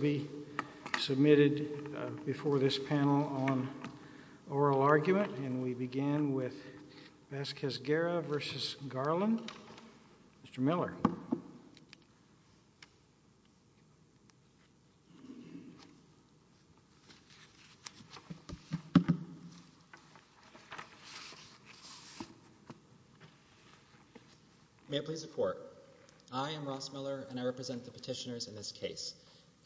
be submitted before this panel on oral argument, and we begin with Vazquez-Guerra v. Garland. Mr. Miller. May I please report? I am Ross Miller, and I represent the petitioners in this case,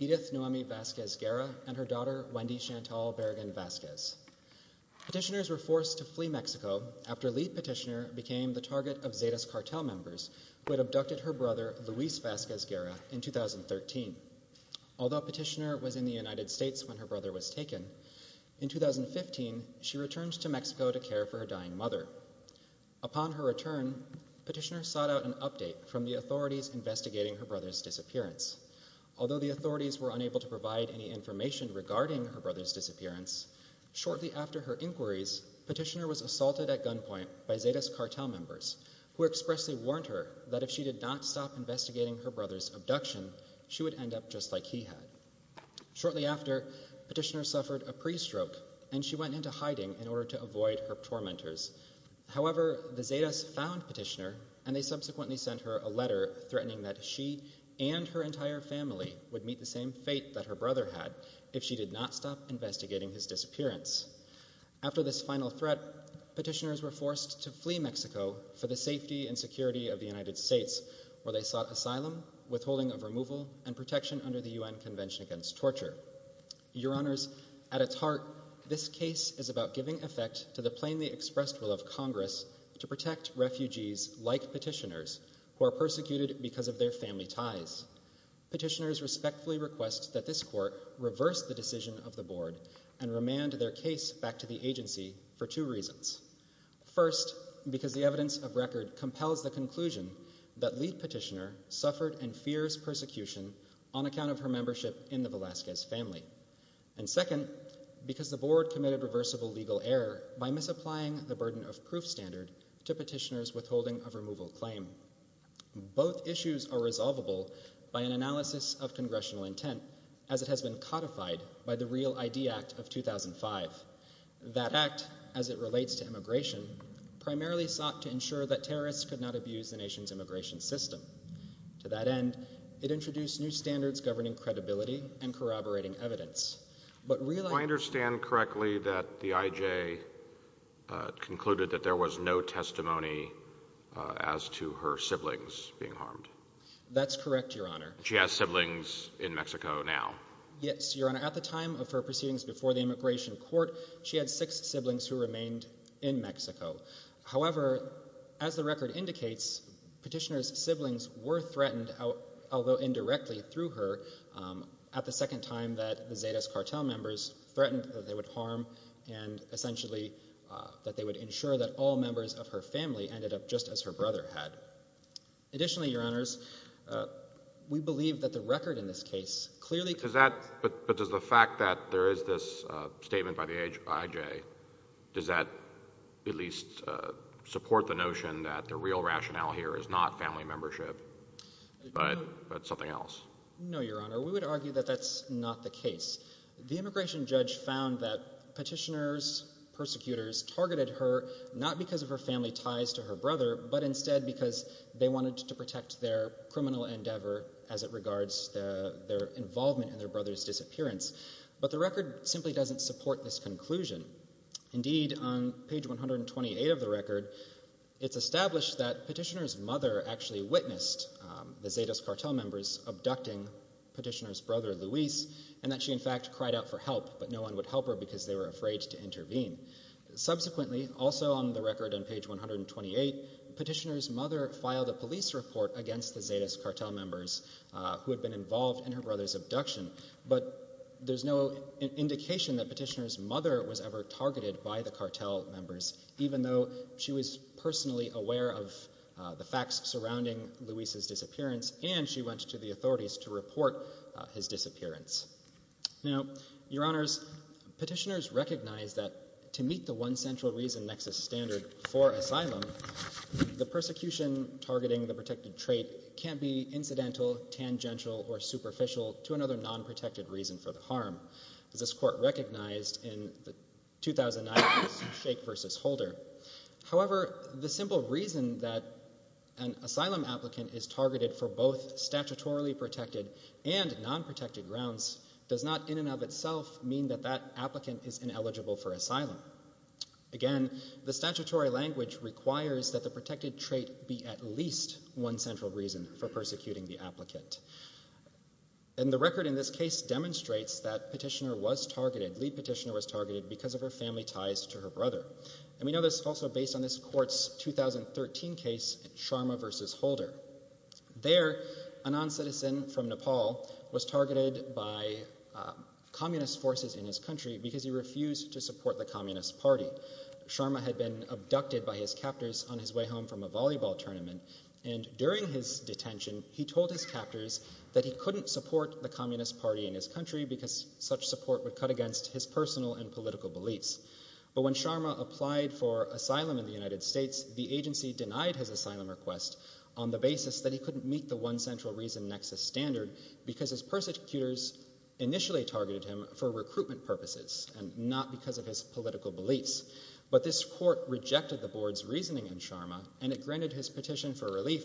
Edith Noemi Vazquez-Guerra and her daughter Wendy Chantal Berrigan-Vazquez. Petitioners were forced to flee Mexico after lead petitioner became the target of Zetas cartel members who had abducted her brother Luis Vazquez-Guerra in 2013. Although petitioner was in the United States when her brother was taken, in 2015 she returned to Mexico to care for her dying mother. Upon her return, petitioner sought out an update from the authorities investigating her brother's disappearance. Although the authorities were unable to provide any information regarding her brother's disappearance, shortly after her inquiries, petitioner was assaulted at gunpoint by Zetas cartel members, who expressly warned her that if she did not stop investigating her brother's abduction, she would end up just like he had. Shortly after, petitioner suffered a pre-stroke, and she went into hiding in order to avoid her tormentors. However, the Zetas found petitioner, and they subsequently sent her a letter threatening that she and her entire family would meet the same fate that her brother had if she did not stop investigating his disappearance. After this final threat, petitioners were forced to flee Mexico for the safety and security of the United States, where they sought asylum, withholding of removal, and protection under the UN Convention Against Torture. Your Honors, at its heart, this case is about giving effect to the plainly expressed will of Congress to protect refugees like petitioners who are persecuted because of their family ties. Petitioners respectfully request that this court reverse the decision of the board and remand their case back to the agency for two reasons. First, because the evidence of record compels the conclusion that lead petitioner suffered and fears persecution on account of her membership in the Velazquez family. And second, because the board committed reversible legal error by misapplying the burden of proof standard to petitioner's withholding of removal claim. Both issues are resolvable by an analysis of congressional intent, as it has been codified by the REAL ID Act of 2005. That act, as it relates to immigration, primarily sought to ensure that terrorists could not abuse the nation's immigration system. To that end, it introduced new standards governing credibility and corroborating evidence. I understand correctly that the IJ concluded that there was no testimony as to her siblings being harmed? That's correct, Your Honor. She has siblings in Mexico now? Yes, Your Honor. At the time of her proceedings before the immigration court, she had six siblings who remained in Mexico. However, as the record indicates, petitioner's siblings were threatened, although indirectly through her, at the second time that the Zetas cartel members threatened that they would harm and, essentially, that they would ensure that all members of her family ended up just as her brother had. Additionally, Your Honors, we believe that the record in this case clearly… But does the fact that there is this statement by the IJ, does that at least support the notion that the real rationale here is not family membership but something else? No, Your Honor. We would argue that that's not the case. The immigration judge found that petitioner's persecutors targeted her not because of her family ties to her brother but instead because they wanted to protect their criminal endeavor as it regards their involvement in their brother's disappearance. But the record simply doesn't support this conclusion. Indeed, on page 128 of the record, it's established that petitioner's mother actually witnessed the Zetas cartel members abducting petitioner's brother, Luis, and that she, in fact, cried out for help, but no one would help her because they were afraid to intervene. Subsequently, also on the record on page 128, petitioner's mother filed a police report against the Zetas cartel members who had been involved in her brother's abduction, but there's no indication that petitioner's mother was ever targeted by the cartel members, even though she was personally aware of the facts surrounding Luis's disappearance and she went to the authorities to report his disappearance. Now, Your Honors, petitioners recognize that to meet the one central reason nexus standard for asylum, the persecution targeting the protected trait can't be incidental, tangential, or superficial to another non-protected reason for the harm, as this Court recognized in the 2009 case of Shake v. Holder. However, the simple reason that an asylum applicant is targeted for both statutorily protected and non-protected grounds does not in and of itself mean that that applicant is ineligible for asylum. Again, the statutory language requires that the protected trait be at least one central reason for persecuting the applicant. And the record in this case demonstrates that petitioner was targeted, lead petitioner was targeted, because of her family ties to her brother. And we know this also based on this Court's 2013 case, Sharma v. Holder. There, a non-citizen from Nepal was targeted by communist forces in his country because he refused to support the communist party. Sharma had been abducted by his captors on his way home from a volleyball tournament, and during his detention, he told his captors that he couldn't support the communist party in his country because such support would cut against his personal and political beliefs. But when Sharma applied for asylum in the United States, the agency denied his asylum request on the basis that he couldn't meet the one central reason nexus standard because his persecutors initially targeted him for recruitment purposes and not because of his political beliefs. But this Court rejected the Board's reasoning in Sharma, and it granted his petition for relief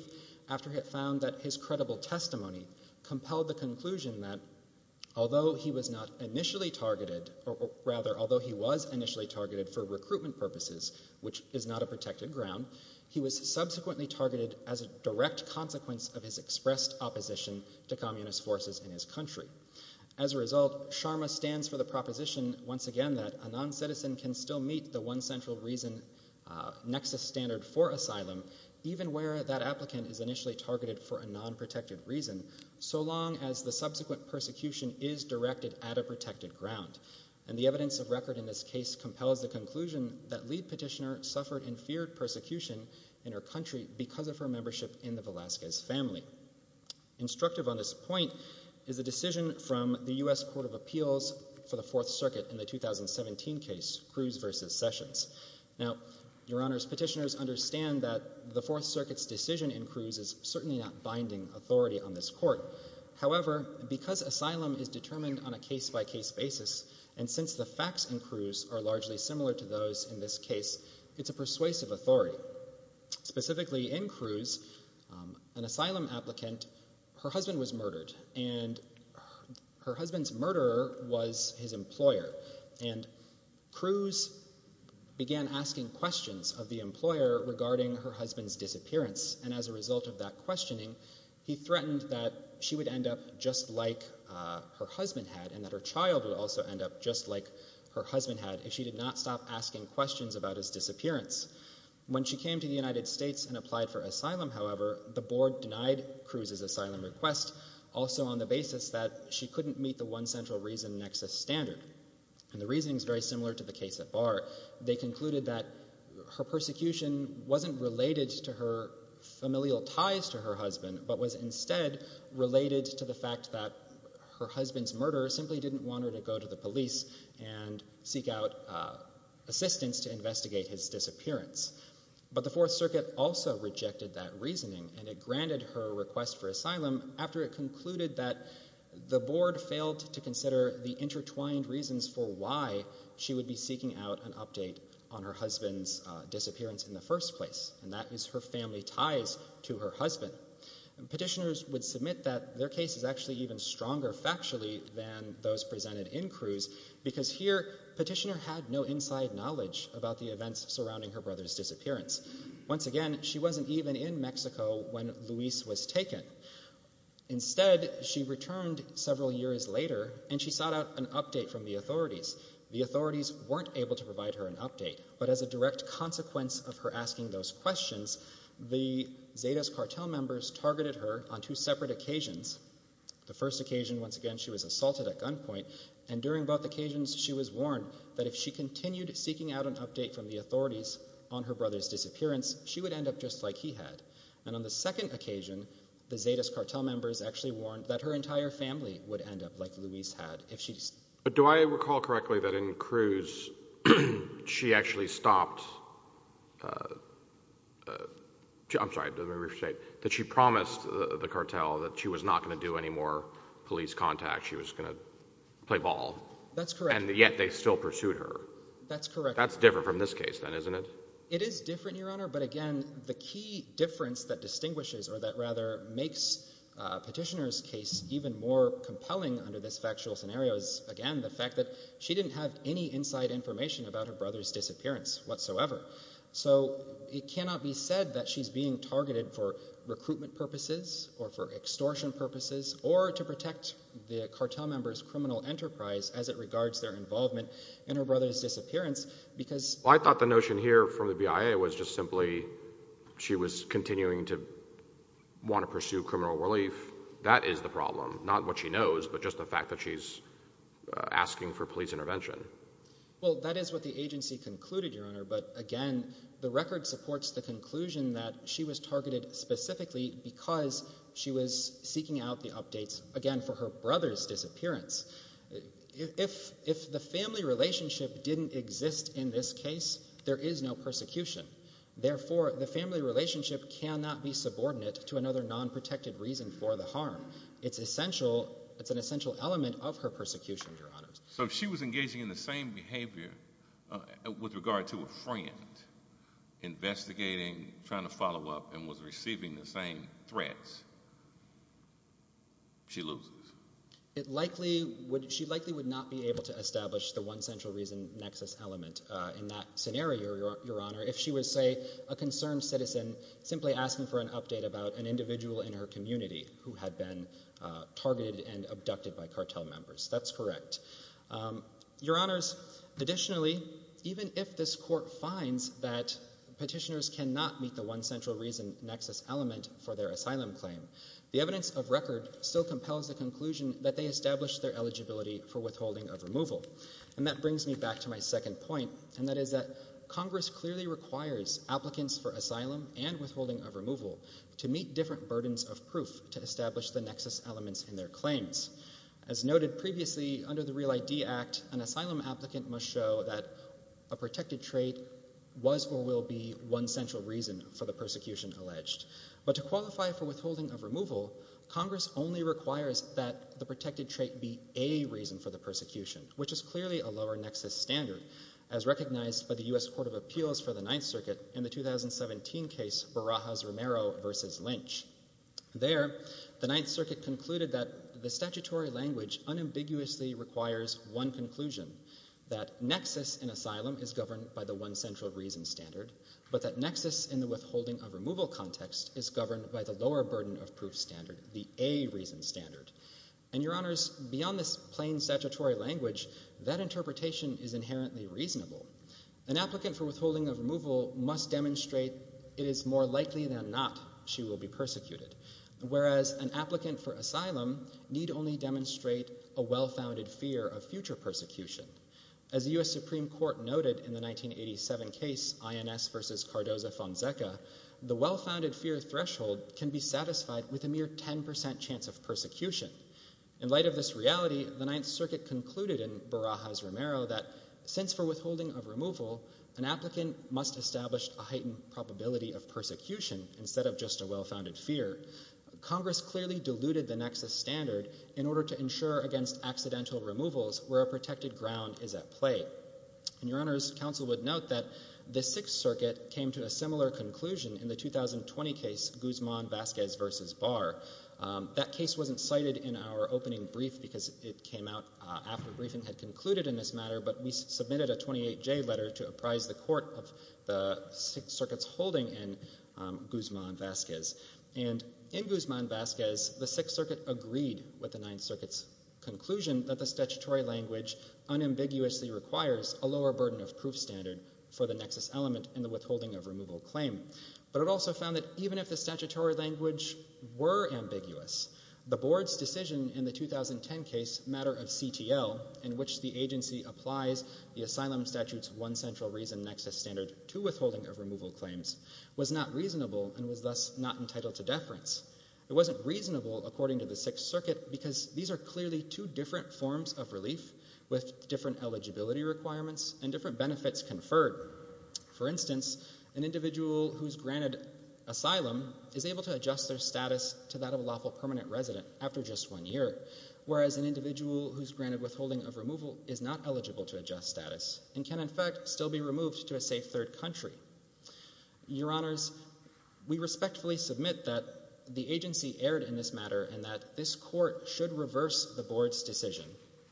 after it found that his credible testimony compelled the conclusion that although he was initially targeted for recruitment purposes, which is not a protected ground, he was subsequently targeted as a direct consequence of his expressed opposition to communist forces in his country. As a result, Sharma stands for the proposition once again that a non-citizen can still meet the one central reason nexus standard for asylum, even where that applicant is initially targeted for a non-protected reason, so long as the subsequent persecution is directed at a protected ground. And the evidence of record in this case compels the conclusion that Lead Petitioner suffered and feared persecution in her country because of her membership in the Velazquez family. Instructive on this point is a decision from the U.S. Court of Appeals for the Fourth Circuit in the 2017 case, Cruz v. Sessions. Now, Your Honors, petitioners understand that the Fourth Circuit's decision in Cruz is certainly not binding authority on this Court. However, because asylum is determined on a case-by-case basis, and since the facts in Cruz are largely similar to those in this case, it's a persuasive authority. Specifically, in Cruz, an asylum applicant, her husband was murdered, and her husband's murderer was his employer. And Cruz began asking questions of the employer regarding her husband's disappearance, and as a result of that questioning, he threatened that she would end up just like her husband had and that her child would also end up just like her husband had if she did not stop asking questions about his disappearance. When she came to the United States and applied for asylum, however, the Board denied Cruz's asylum request, also on the basis that she couldn't meet the one central reason nexus standard. And the reasoning is very similar to the case at Barr. They concluded that her persecution wasn't related to her familial ties to her husband, but was instead related to the fact that her husband's murderer simply didn't want her to go to the police and seek out assistance to investigate his disappearance. But the Fourth Circuit also rejected that reasoning, and it granted her a request for asylum after it concluded that the Board failed to consider the intertwined reasons for why she would be seeking out an update on her husband's disappearance in the first place, and that is her family ties to her husband. Petitioners would submit that their case is actually even stronger factually than those presented in Cruz, because here, Petitioner had no inside knowledge about the events surrounding her brother's disappearance. Once again, she wasn't even in Mexico when Luis was taken. Instead, she returned several years later, and she sought out an update from the authorities. The authorities weren't able to provide her an update, but as a direct consequence of her asking those questions, the Zetas cartel members targeted her on two separate occasions. The first occasion, once again, she was assaulted at gunpoint, and during both occasions she was warned that if she continued seeking out an update from the authorities on her brother's disappearance, she would end up just like he had. And on the second occasion, the Zetas cartel members actually warned that her entire family would end up like Luis had if she... But do I recall correctly that in Cruz she actually stopped... I'm sorry, let me rephrase. That she promised the cartel that she was not going to do any more police contact, she was going to play ball. That's correct. And yet they still pursued her. That's correct. That's different from this case then, isn't it? It is different, Your Honor, but again, the key difference that distinguishes or that rather makes Petitioner's case even more compelling under this factual scenario is, again, the fact that she didn't have any inside information about her brother's disappearance whatsoever. So it cannot be said that she's being targeted for recruitment purposes or for extortion purposes or to protect the cartel members' criminal enterprise as it regards their involvement in her brother's disappearance because... The information here from the BIA was just simply she was continuing to want to pursue criminal relief. That is the problem, not what she knows, but just the fact that she's asking for police intervention. Well, that is what the agency concluded, Your Honor, but again, the record supports the conclusion that she was targeted specifically because she was seeking out the updates, again, for her brother's disappearance. If the family relationship didn't exist in this case, there is no persecution. Therefore, the family relationship cannot be subordinate to another non-protected reason for the harm. It's an essential element of her persecution, Your Honor. So if she was engaging in the same behavior with regard to a friend, investigating, trying to follow up, and was receiving the same threats, she loses. She likely would not be able to establish the one central reason nexus element in that scenario, Your Honor, if she was, say, a concerned citizen simply asking for an update about an individual in her community who had been targeted and abducted by cartel members. That's correct. Your Honors, additionally, even if this court finds that petitioners cannot meet the one central reason nexus element for their asylum claim, the evidence of record still compels the conclusion that they established their eligibility for withholding of removal. And that brings me back to my second point, and that is that Congress clearly requires applicants for asylum and withholding of removal to meet different burdens of proof to establish the nexus elements in their claims. As noted previously, under the REAL ID Act, an asylum applicant must show that a protected trait was or will be one central reason for the persecution alleged. But to qualify for withholding of removal, Congress only requires that the protected trait be a reason for the persecution, which is clearly a lower nexus standard, as recognized by the U.S. Court of Appeals for the Ninth Circuit in the 2017 case Barajas-Romero v. Lynch. There, the Ninth Circuit concluded that the statutory language unambiguously requires one conclusion, that nexus in asylum is governed by the one central reason standard, but that nexus in the withholding of removal context is governed by the lower burden of proof standard, the A reason standard. And, Your Honors, beyond this plain statutory language, that interpretation is inherently reasonable. An applicant for withholding of removal must demonstrate it is more likely than not she will be persecuted, whereas an applicant for asylum need only demonstrate a well-founded fear of future persecution. As the U.S. Supreme Court noted in the 1987 case INS v. Cardoza-Fonseca, the well-founded fear threshold can be satisfied with a mere 10% chance of persecution. In light of this reality, the Ninth Circuit concluded in Barajas-Romero that since for withholding of removal, an applicant must establish a heightened probability of persecution instead of just a well-founded fear. Congress clearly diluted the nexus standard in order to ensure against accidental removals where a protected ground is at play. And, Your Honors, counsel would note that the Sixth Circuit came to a similar conclusion in the 2020 case Guzman-Vasquez v. Barr. That case wasn't cited in our opening brief because it came out after briefing had concluded in this matter, but we submitted a 28-J letter to apprise the court of the Sixth Circuit's holding in Guzman-Vasquez. And in Guzman-Vasquez, the Sixth Circuit agreed with the Ninth Circuit's conclusion that the statutory language unambiguously requires a lower burden of proof standard for the nexus element in the withholding of removal claim. But it also found that even if the statutory language were ambiguous, the Board's decision in the 2010 case Matter of CTL in which the agency applies the Asylum Statute's one central reason nexus standard to withholding of removal claims was not reasonable and was thus not entitled to deference. It wasn't reasonable, according to the Sixth Circuit, because these are clearly two different forms of relief with different eligibility requirements and different benefits conferred. For instance, an individual who's granted asylum is able to adjust their status to that of a lawful permanent resident after just one year, whereas an individual who's granted withholding of removal is not eligible to adjust status and can, in fact, still be removed to a safe third country. Your Honours, we respectfully submit that the agency erred in this matter and that this Court should reverse the Board's decision.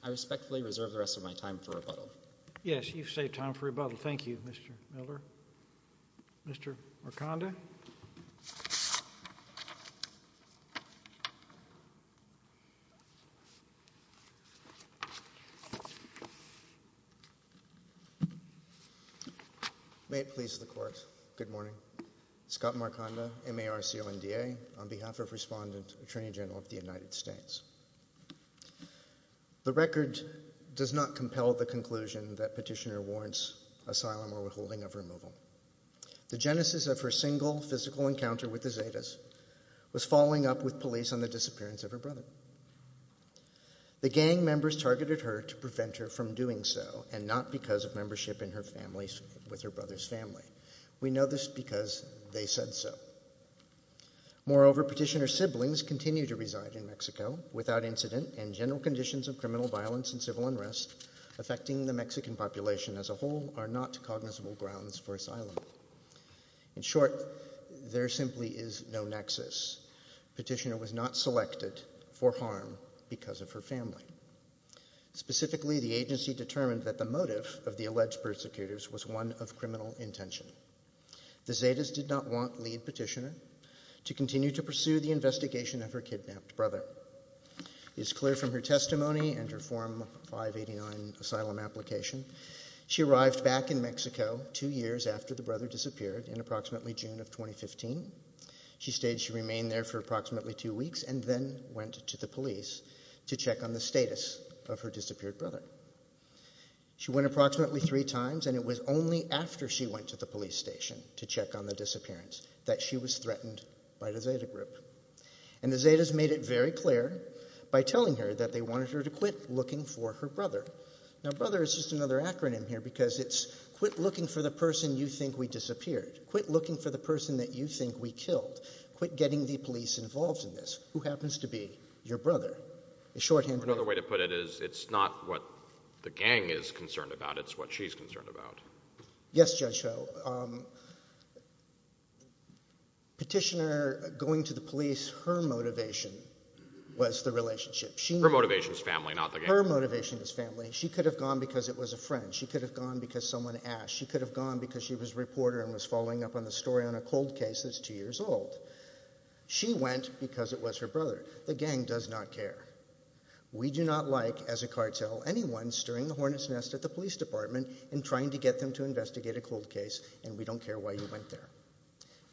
I respectfully reserve the rest of my time for rebuttal. Yes, you've saved time for rebuttal. Thank you, Mr. Miller. Mr. Marcanda? May it please the Court, good morning. Scott Marcanda, MARCLNDA, on behalf of Respondent Attorney General of the United States. The record does not compel the conclusion that Petitioner warrants asylum or withholding of removal. The genesis of her single physical encounter with the Zetas was following up with police on the disappearance of her brother. The gang members targeted her to prevent her from doing so and not because of membership in her family with her brother's family. We know this because they said so. Moreover, Petitioner's siblings continue to reside in Mexico without incident, and general conditions of criminal violence and civil unrest affecting the Mexican population as a whole are not cognizable grounds for asylum. In short, there simply is no nexus. Petitioner was not selected for harm because of her family. Specifically, the agency determined that the motive of the alleged persecutors was one of criminal intention. The Zetas did not want lead Petitioner to continue to pursue the investigation of her kidnapped brother. It is clear from her testimony and her Form 589 asylum application she arrived back in Mexico two years after the brother disappeared in approximately June of 2015. She stated she remained there for approximately two weeks and then went to the police to check on the status of her disappeared brother. She went approximately three times and it was only after she went to the police station to check on the disappearance that she was threatened by the Zeta group. And the Zetas made it very clear by telling her that they wanted her to quit looking for her brother. Now, brother is just another acronym here because it's quit looking for the person you think we disappeared, quit looking for the person that you think we killed, quit getting the police involved in this. Who happens to be your brother? Another way to put it is it's not what the gang is concerned about, it's what she's concerned about. Yes, Judge Ho. Petitioner going to the police, her motivation was the relationship. Her motivation is family, not the gang. Her motivation is family. She could have gone because it was a friend. She could have gone because someone asked. She could have gone because she was a reporter and was following up on the story on a cold case that's two years old. She went because it was her brother. The gang does not care. We do not like, as a cartel, anyone stirring the hornet's nest at the police department and trying to get them to investigate a cold case, and we don't care why you went there.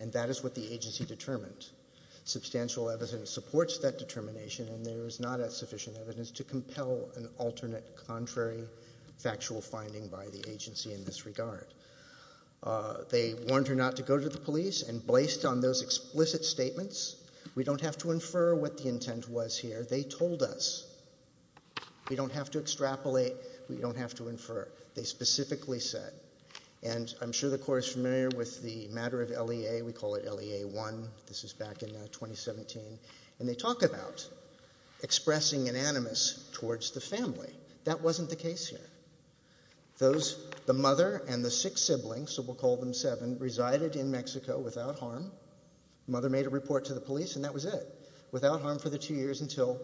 And that is what the agency determined. Substantial evidence supports that determination, and there is not sufficient evidence to compel an alternate contrary factual finding by the agency in this regard. They warned her not to go to the police, and based on those explicit statements, we don't have to infer what the intent was here. They told us. We don't have to extrapolate. We don't have to infer. They specifically said, and I'm sure the Corps is familiar with the matter of LEA. We call it LEA 1. This is back in 2017, and they talk about expressing an animus towards the family. That wasn't the case here. The mother and the six siblings, so we'll call them seven, resided in Mexico without harm. Mother made a report to the police, and that was it. Without harm for the two years until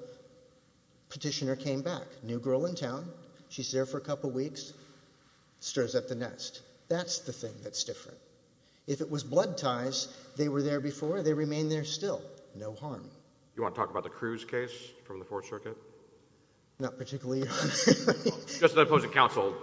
petitioner came back. New girl in town. She's there for a couple weeks, stirs up the nest. That's the thing that's different. If it was blood ties, they were there before. They remain there still. No harm. You want to talk about the Cruz case from the Fourth Circuit? Not particularly. Just the opposing counsel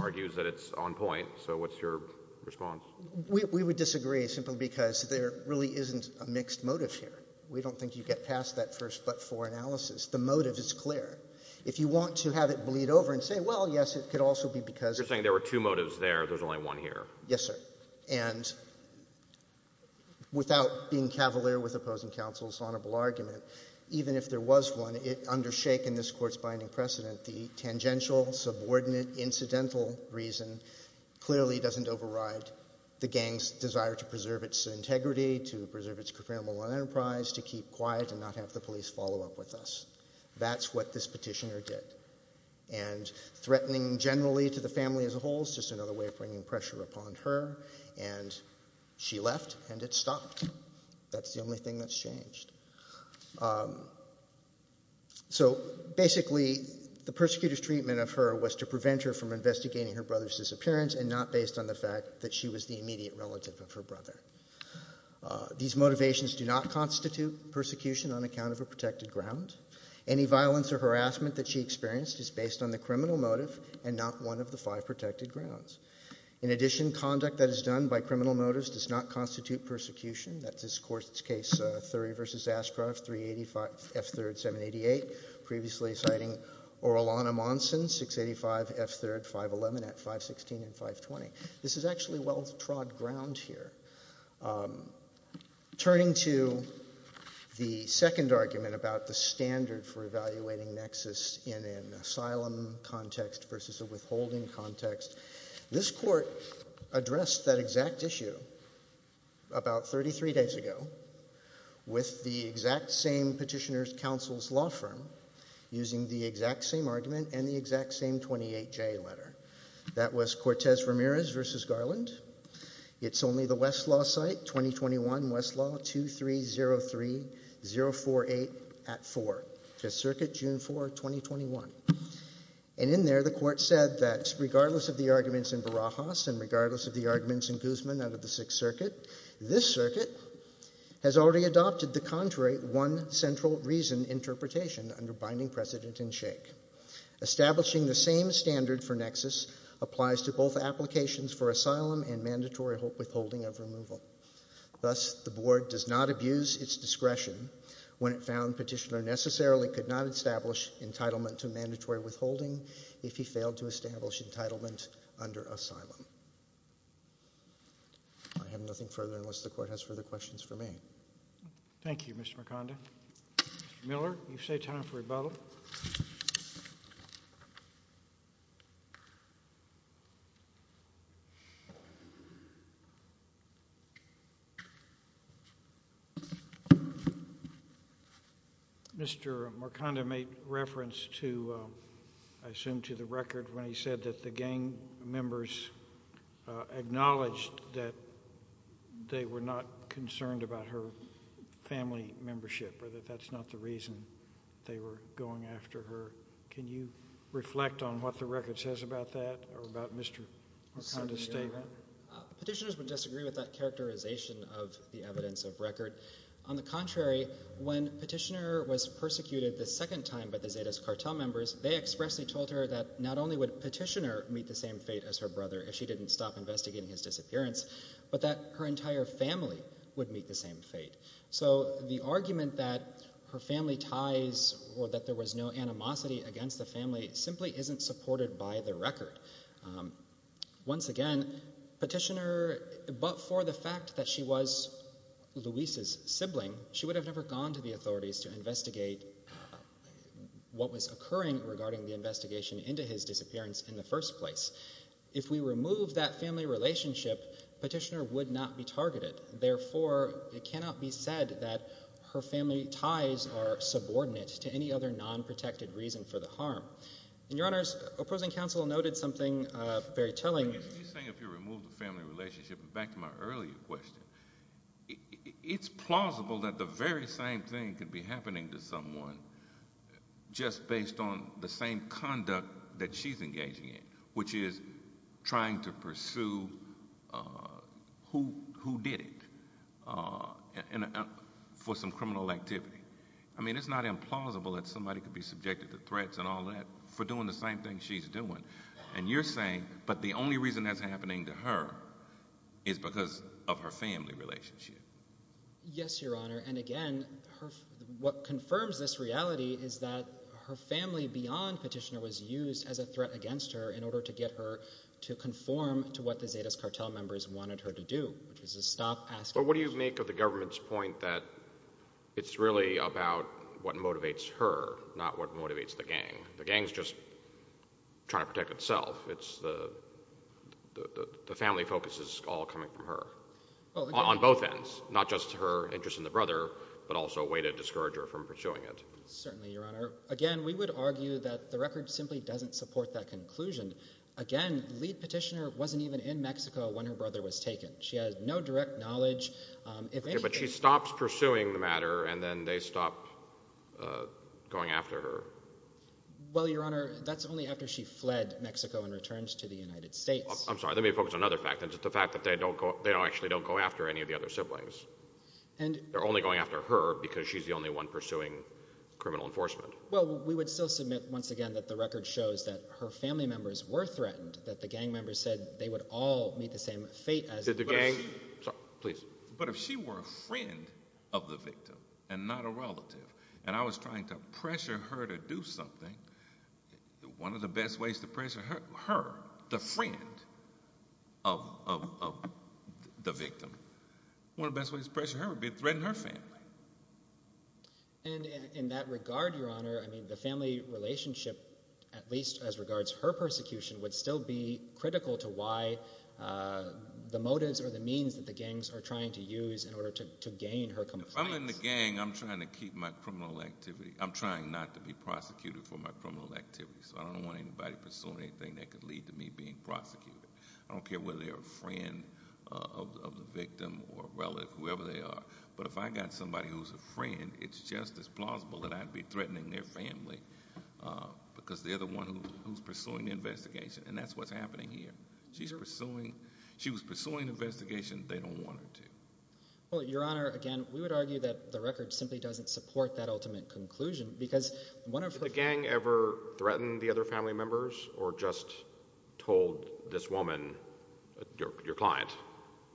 argues that it's on point, so what's your response? We would disagree, simply because there really isn't a mixed motive here. We don't think you get past that first but for analysis. The motive is clear. If you want to have it bleed over and say, well, yes, it could also be because... You're saying there were two motives there. There's only one here. Yes, sir. And without being cavalier with opposing counsel's honorable argument, even if there was one, under shake in this Court's binding precedent, the tangential, subordinate, incidental reason clearly doesn't override the gang's desire to preserve its integrity, to preserve its criminal enterprise, to keep quiet and not have the police follow up with us. That's what this petitioner did. And threatening generally to the family as a whole is just another way of bringing pressure upon her, and she left and it stopped. That's the only thing that's changed. So, basically, the persecutor's treatment of her was to prevent her from investigating her brother's disappearance and not based on the fact that she was the immediate relative of her brother. These motivations do not constitute persecution on account of a protected ground. Any violence or harassment that she experienced is based on the criminal motive and not one of the five protected grounds. In addition, conduct that is done by criminal motives does not constitute persecution. That's this Court's case, Thury v. Ashcroft, 385 F. 3rd, 788, previously citing Orellana Monson, 685 F. 3rd, 511 at 516 and 520. This is actually well-trod ground here. Turning to the second argument about the standard for evaluating nexus in an asylum context versus a withholding context, this Court addressed that exact issue about 33 days ago with the exact same petitioner's counsel's law firm using the exact same argument and the exact same 28J letter. That was Cortez-Ramirez v. Garland. It's only the Westlaw site, 2021 Westlaw 2303048 at 4, 5th Circuit, June 4, 2021. And in there, the Court said that regardless of the arguments in Barajas and regardless of the arguments in Guzman out of the 6th Circuit, this Circuit has already adopted the contrary one central reason interpretation under binding precedent and shake. Establishing the same standard for nexus applies to both applications for asylum and mandatory withholding of removal. Thus, the Board does not abuse its discretion when it found petitioner necessarily could not establish entitlement to mandatory withholding if he failed to establish entitlement under asylum. I have nothing further unless the Court has further questions for me. Thank you, Mr. Mercando. Mr. Miller, you've saved time for rebuttal. Mr. Mercando made reference to, I assume, to the record when he said that the gang members acknowledged that they were not concerned about her family membership or that that's not the reason they were going after her. Can you reflect on what the record says about that or about Mr. Mercando's statement? Petitioners would disagree with that characterization of the evidence of record. On the contrary, when petitioner was persecuted the second time by the Zetas cartel members, they expressly told her that not only would petitioner meet the same fate as her brother if she didn't stop investigating his disappearance, but that her entire family would meet the same fate. So the argument that her family ties or that there was no animosity against the family simply isn't supported by the record. Once again, petitioner... But for the fact that she was Luis's sibling, she would have never gone to the authorities to investigate what was occurring regarding the investigation into his disappearance in the first place. If we remove that family relationship, petitioner would not be targeted. Therefore, it cannot be said that her family ties are subordinate to any other nonprotected reason for the harm. And, Your Honors, opposing counsel noted something very telling... He's saying if you remove the family relationship. Back to my earlier question. It's plausible that the very same thing could be happening to someone just based on the same conduct that she's engaging in, which is trying to pursue who did it for some criminal activity. I mean, it's not implausible that somebody could be subjected to threats and all that for doing the same thing she's doing. And you're saying, but the only reason that's happening to her is because of her family relationship. Yes, Your Honor, and again, what confirms this reality is that her family beyond petitioner was used as a threat against her in order to get her to conform to what the Zetas cartel members wanted her to do, which was to stop asking... But what do you make of the government's point that it's really about what motivates her, not what motivates the gang? The gang's just trying to protect itself. The family focus is all coming from her on both ends, not just her interest in the brother, but also a way to discourage her from pursuing it. Certainly, Your Honor. Again, we would argue that the record simply doesn't support that conclusion. Again, the lead petitioner wasn't even in Mexico when her brother was taken. She had no direct knowledge. But she stops pursuing the matter, and then they stop going after her. Well, Your Honor, that's only after she fled Mexico and returns to the United States. I'm sorry, let me focus on another fact, and it's the fact that they actually don't go after any of the other siblings. They're only going after her because she's the only one pursuing criminal enforcement. Well, we would still submit, once again, that the record shows that her family members were threatened, that the gang members said they would all meet the same fate as... Did the gang... Sorry, please. But if she were a friend of the victim and not a relative, and I was trying to pressure her to do something, one of the best ways to pressure her, the friend of the victim, one of the best ways to pressure her would be to threaten her family. And in that regard, Your Honor, I mean, the family relationship, at least as regards her persecution, would still be critical to why the motives or the means that the gangs are trying to use in order to gain her compliance. If I'm in the gang, I'm trying to keep my criminal activity. I'm trying not to be prosecuted for my criminal activities. I don't want anybody pursuing anything that could lead to me being prosecuted. I don't care whether they're a friend of the victim or a relative, whoever they are. But if I got somebody who's a friend, it's just as plausible that I'd be threatening their family because they're the one who's pursuing the investigation. And that's what's happening here. She's pursuing... She was pursuing the investigation. They don't want her to. Well, Your Honor, again, we would argue that the record simply doesn't support that ultimate conclusion because one of her... Did the gang ever threaten the other family members or just told this woman, your client,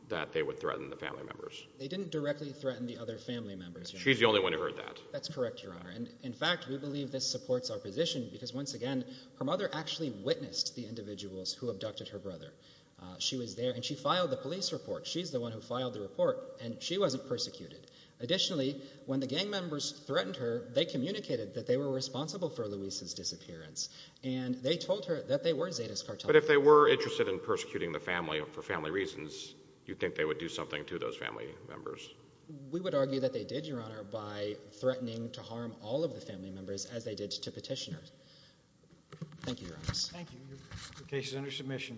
that they would threaten the family members? They didn't directly threaten the other family members. She's the only one who heard that. That's correct, Your Honor. In fact, we believe this supports our position because, once again, her mother actually witnessed the individuals who abducted her brother. She was there, and she filed the police report. She's the one who filed the report, and she wasn't persecuted. Additionally, when the gang members threatened her, they communicated that they were responsible for Luisa's disappearance, and they told her that they were Zeta's cartel. But if they were interested in persecuting the family for family reasons, you think they would do something to those family members? We would argue that they did, Your Honor, by threatening to harm all of the family members as they did to petitioners. Thank you, Your Honor. Thank you. Your case is under submission.